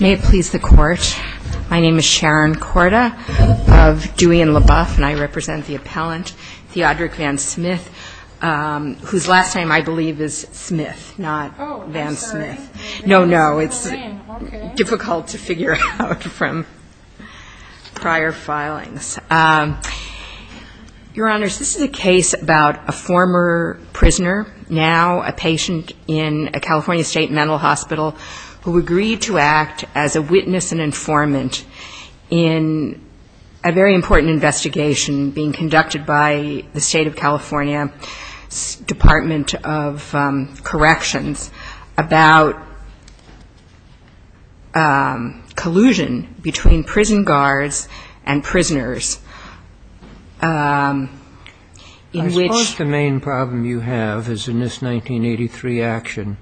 May it please the Court, my name is Sharon Korda of Dewey and LaBeouf, and I represent the appellant Theodric Van Smith, whose last name, I believe, is Smith, not Van Smith. No, no, it's difficult to figure out from prior filings. Your Honors, this is a case about a former prisoner, now a patient in a California State Mental Hospital, who agreed to act as a witness and informant in a very important investigation being conducted by the State of California Department of Corrections about collusion between prison guards and prisoners. I suppose the main problem you have is in this 1983 action,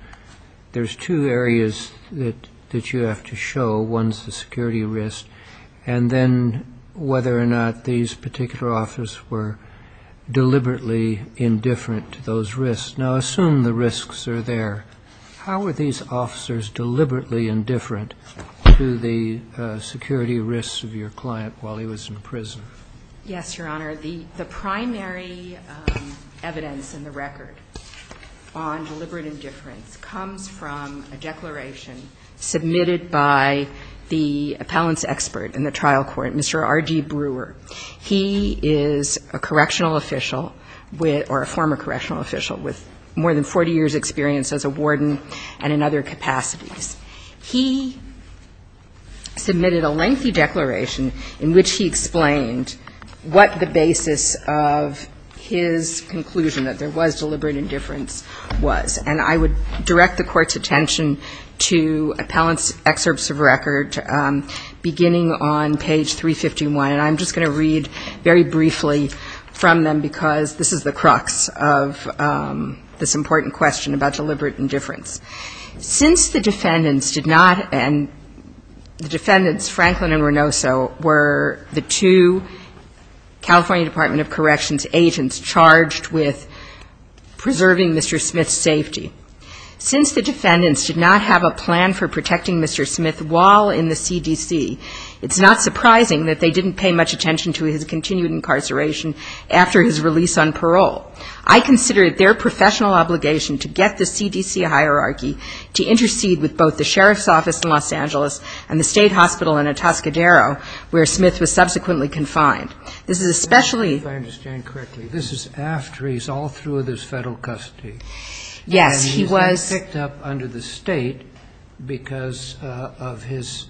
there's two areas that you have to show. One's the security risk, and then whether or not these particular officers were deliberately indifferent to those risks. Now, assume the risks are there. How were these officers deliberately indifferent to the security risks of your client while he was in prison? Yes, Your Honor, the primary evidence in the record on deliberate indifference comes from a declaration submitted by the appellant's expert in the trial court, Mr. R. G. Brewer. He is a correctional official with or a former correctional official with more than 40 years' experience as a warden and in other capacities. He submitted a lengthy declaration in which he explained what the basis of his conclusion that there was deliberate indifference was. And I would direct the Court's attention to appellant's excerpts of record beginning on page 351. And I'm just going to read very briefly from them, because this is the crux of this important question about deliberate indifference. Since the defendants did not and the defendants, Franklin and Renoso, were the two California Department of Corrections agents charged with preserving Mr. Smith's safety. Since the defendants did not have a plan for protecting much attention to his continued incarceration after his release on parole, I consider it their professional obligation to get the CDC hierarchy to intercede with both the sheriff's office in Los Angeles and the state hospital in Atascadero, where Smith was subsequently confined. This is especially If I understand correctly, this is after he's all through his federal custody. Yes, he was picked up under the state because of his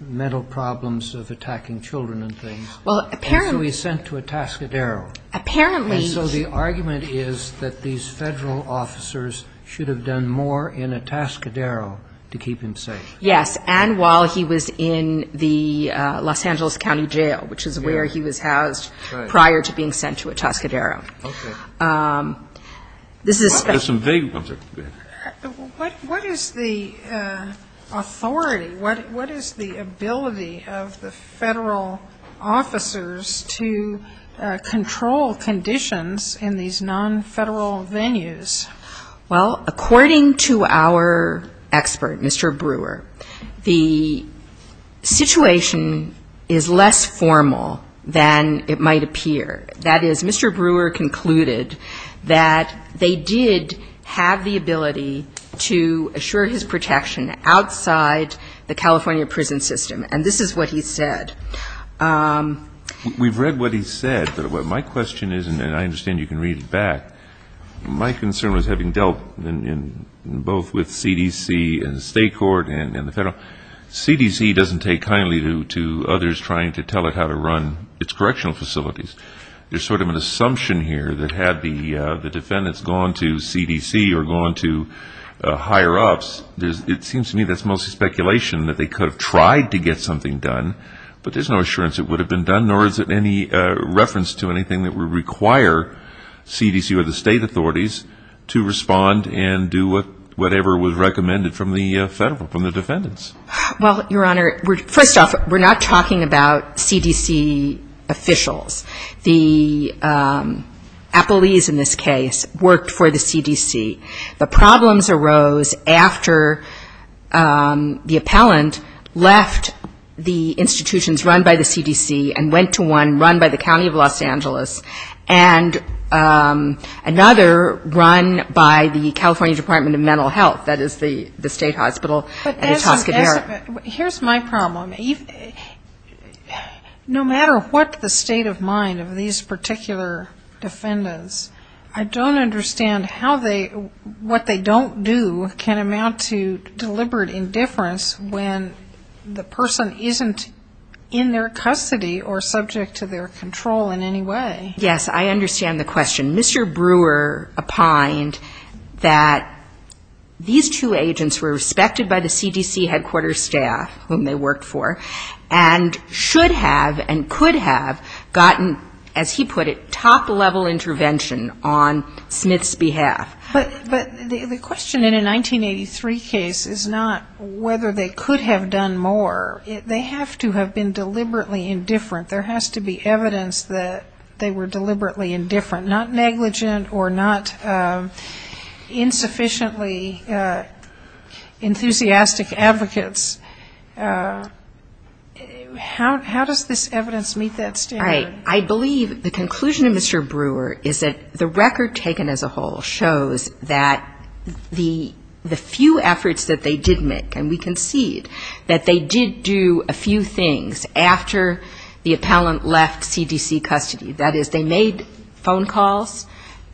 mental problems of attacking children and things. Well, apparently. And so he's sent to Atascadero. Apparently. And so the argument is that these federal officers should have done more in Atascadero to keep him safe. Yes. And while he was in the Los Angeles County Jail, which is where he was housed prior to being sent to Atascadero. Okay. This is especially. There's some vague ones. What is the authority, what is the ability of the federal officers to control conditions in these non-federal venues? Well, according to our expert, Mr. Brewer, the situation is less formal than it might appear. That is, Mr. Brewer concluded that they did have the ability to assure his protection outside the California prison system. And this is what he said. We've read what he said. But my question is, and I understand you can read it back, my concern was having dealt both with CDC and the state court and the federal, CDC doesn't take kindly to others trying to tell it how to run its correctional facilities. There's sort of an assumption here that had the defendants gone to CDC or gone to higher ups, it seems to me that's mostly speculation that they could have tried to get something done. But there's no assurance it would have been done, nor is it any reference to anything that would require CDC or the state authorities to respond and do whatever was recommended from the federal, from the defendants. Well, Your Honor, first off, we're not talking about CDC officials. The appellees in this case worked for the CDC. The problems arose after the appellant left the institutions run by the CDC and went to one run by the county of Los Angeles and another run by the California Department of Mental Health, that is the state hospital at Etoska, New York. Here's my problem. No matter what the state of mind of these particular defendants, I don't understand how they, what they don't do can amount to deliberate indifference when the person isn't in their custody or subject to their control in any way. Yes, I understand the question. Mr. Brewer opined that these two agents were respected by the CDC headquarters staff, whom they worked for, and should have and could have gotten, as he put it, top-level intervention on Smith's behalf. But the question in a 1983 case is not whether they could have done more. They have to have been deliberately indifferent. There has to be evidence that they were deliberately indifferent. Not negligent or not insufficiently enthusiastic advocates. How does this evidence meet that standard? I believe the conclusion of Mr. Brewer is that the record taken as a whole shows that the few efforts that they did make, and we concede that they did do a few things after the appellant left CDC custody, that is, they made phone calls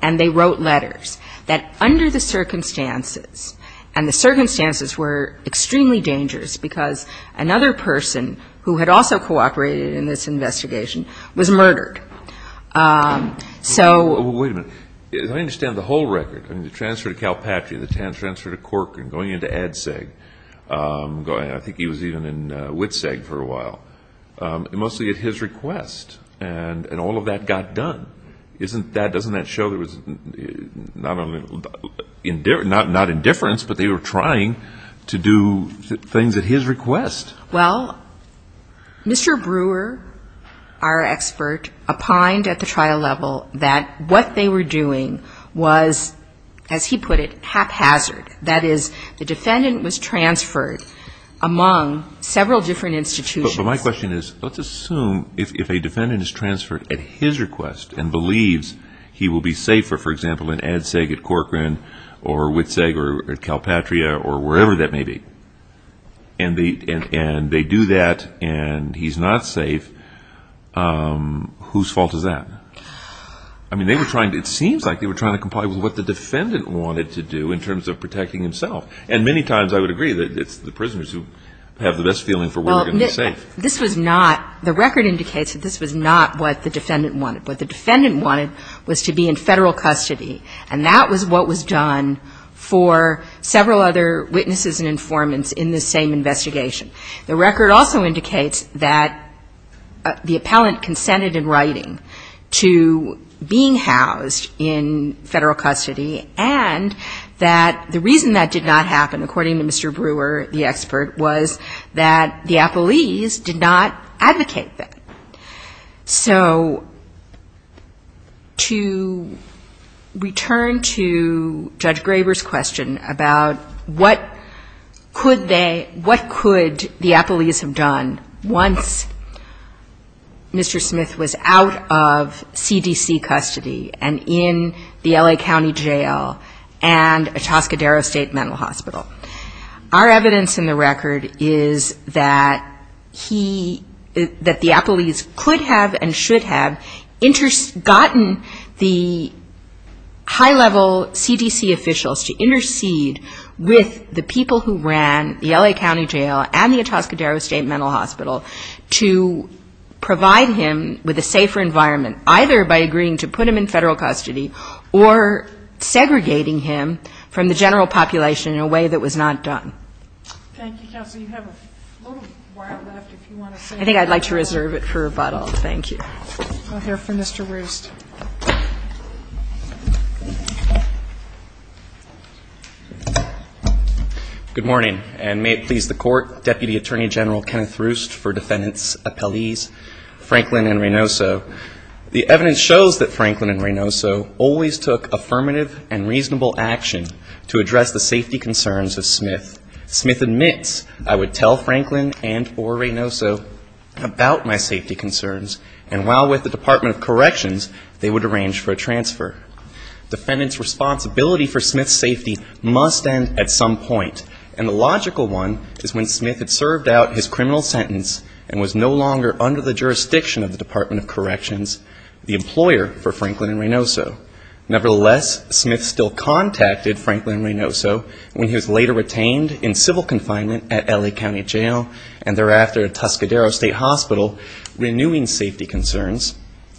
and they wrote letters, that under the circumstances, and the circumstances were extremely dangerous because another person who had also cooperated in this investigation was murdered, so. Well, wait a minute. Let me understand the whole record. I mean, the transfer to Calpatria, the transfer to Corcoran, going into ADSEG. I think he was even in WITSEG for a while. Mostly at his request. And all of that got done. Isn't that, doesn't that show there was not indifference, but they were trying to do things at his request? Well, Mr. Brewer, our expert, opined at the trial level that what they were doing was, as he put it, haphazard. That is, the defendant was transferred among several different institutions. But my question is, let's assume if a defendant is transferred at his request and believes he will be safer, for example, in ADSEG, at Corcoran, or WITSEG, or Calpatria, or wherever that may be, and they do that and he's not safe, whose fault is that? I mean, they were trying, it seems like they were trying to comply with what the defendant wanted to do in terms of protecting himself. And many times I would agree that it's the prisoners who have the best feeling for where they're going to be safe. This was not, the record indicates that this was not what the defendant wanted. What the defendant wanted was to be in federal custody. And that was what was done for several other witnesses and informants in the same investigation. The record also indicates that the appellant consented in writing to being housed in federal custody. And that the reason that did not happen, according to Mr. Brewer, the expert, was that the appellees did not advocate that. So to return to Judge Graber's question about what could they, what could the appellees have done once Mr. Smith was out of CDC custody and in the L.A. County Jail and in the federal custody and in the Atascadero State Mental Hospital. Our evidence in the record is that he, that the appellees could have and should have gotten the high-level CDC officials to intercede with the people who ran the L.A. County Jail and the Atascadero State Mental Hospital to provide him with a safer environment, either by agreeing to put him in federal custody or segregating him from the general population in a way that was not done. Thank you, Counsel. You have a little while left if you want to say anything. I think I'd like to reserve it for rebuttal. Thank you. We'll hear from Mr. Roost. Good morning. And may it please the Court, Deputy Attorney General Kenneth Roost for Defendants, Defense shows that Franklin and Reynoso always took affirmative and reasonable action to address the safety concerns of Smith. Smith admits, I would tell Franklin and or Reynoso about my safety concerns, and while with the Department of Corrections, they would arrange for a transfer. Defendants' responsibility for Smith's safety must end at some point, and the logical one is when Smith had served out his criminal sentence and was no longer under the jurisdiction of the Department of Corrections, the employer for Franklin and Reynoso. Nevertheless, Smith still contacted Franklin and Reynoso when he was later retained in civil confinement at L.A. County Jail and thereafter at Atascadero State Hospital, renewing safety concerns.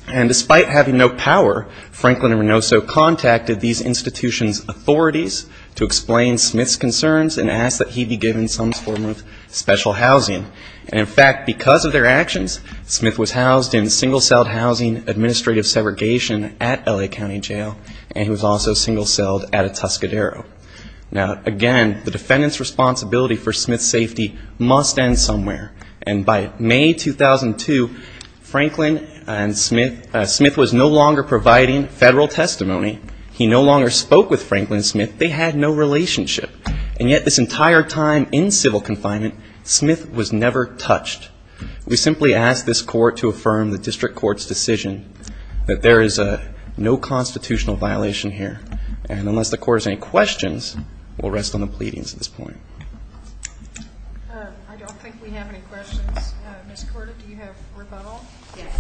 And despite having no power, Franklin and Reynoso contacted these institutions' authorities to explain Smith's concerns and ask that he be given some form of special in single-celled housing, administrative segregation at L.A. County Jail, and he was also single- celled at Atascadero. Now, again, the defendant's responsibility for Smith's safety must end somewhere. And by May 2002, Franklin and Smith, Smith was no longer providing federal testimony. He no longer spoke with Franklin and Smith. They had no relationship. And yet this entire time in civil confinement, Smith was never touched. We simply ask this court to affirm the district court's decision that there is no constitutional violation here. And unless the court has any questions, we'll rest on the pleadings at this point. I don't think we have any questions. Ms. Korda, do you have rebuttal? Yes.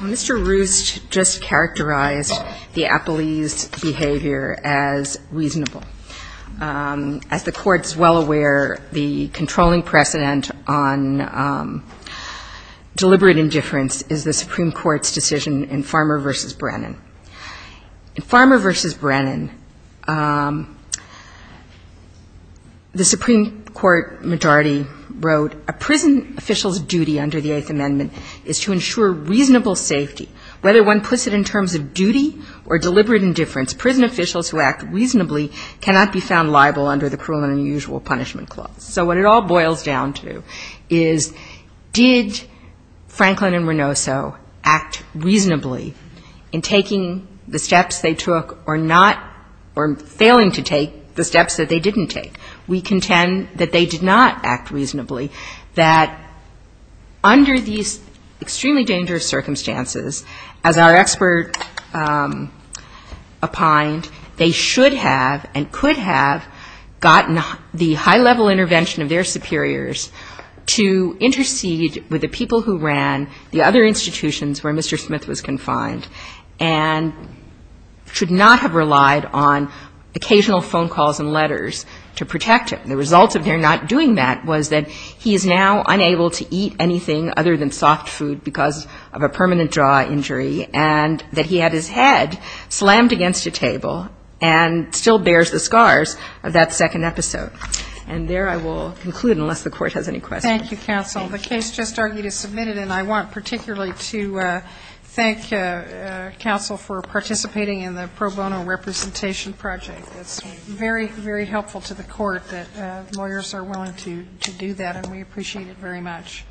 Well, Mr. Roost just characterized the appellee's behavior as reasonable. As the court is well aware, the controlling precedent on deliberate indifference is the Supreme Court's decision in Farmer v. Brennan. In Farmer v. Brennan, the Supreme Court majority wrote, a prison official's duty under the Eighth Amendment is to ensure reasonable safety. Whether one puts it in terms of duty or deliberate indifference, prison officials who act reasonably cannot be found liable under the cruel and unusual punishment clause. So what it all boils down to is, did Franklin and Renoso act reasonably in taking the steps they took or not or failing to take the steps that they didn't take? We contend that they did not act reasonably, that under these extremely dangerous circumstances, as our expert opined, they should have and could have gotten the high-level intervention of their superiors to intercede with the people who ran the other institutions where Mr. Smith was confined and should not have relied on occasional phone calls and letters to protect him. The result of their not doing that was that he is now unable to eat anything other than alcohol and still bears the scars of that second episode. And there I will conclude, unless the Court has any questions. Thank you, Counsel. The case just argued is submitted, and I want particularly to thank Counsel for participating in the pro bono representation project. It's very, very helpful to the Court that lawyers are willing to do that, and we appreciate it very much.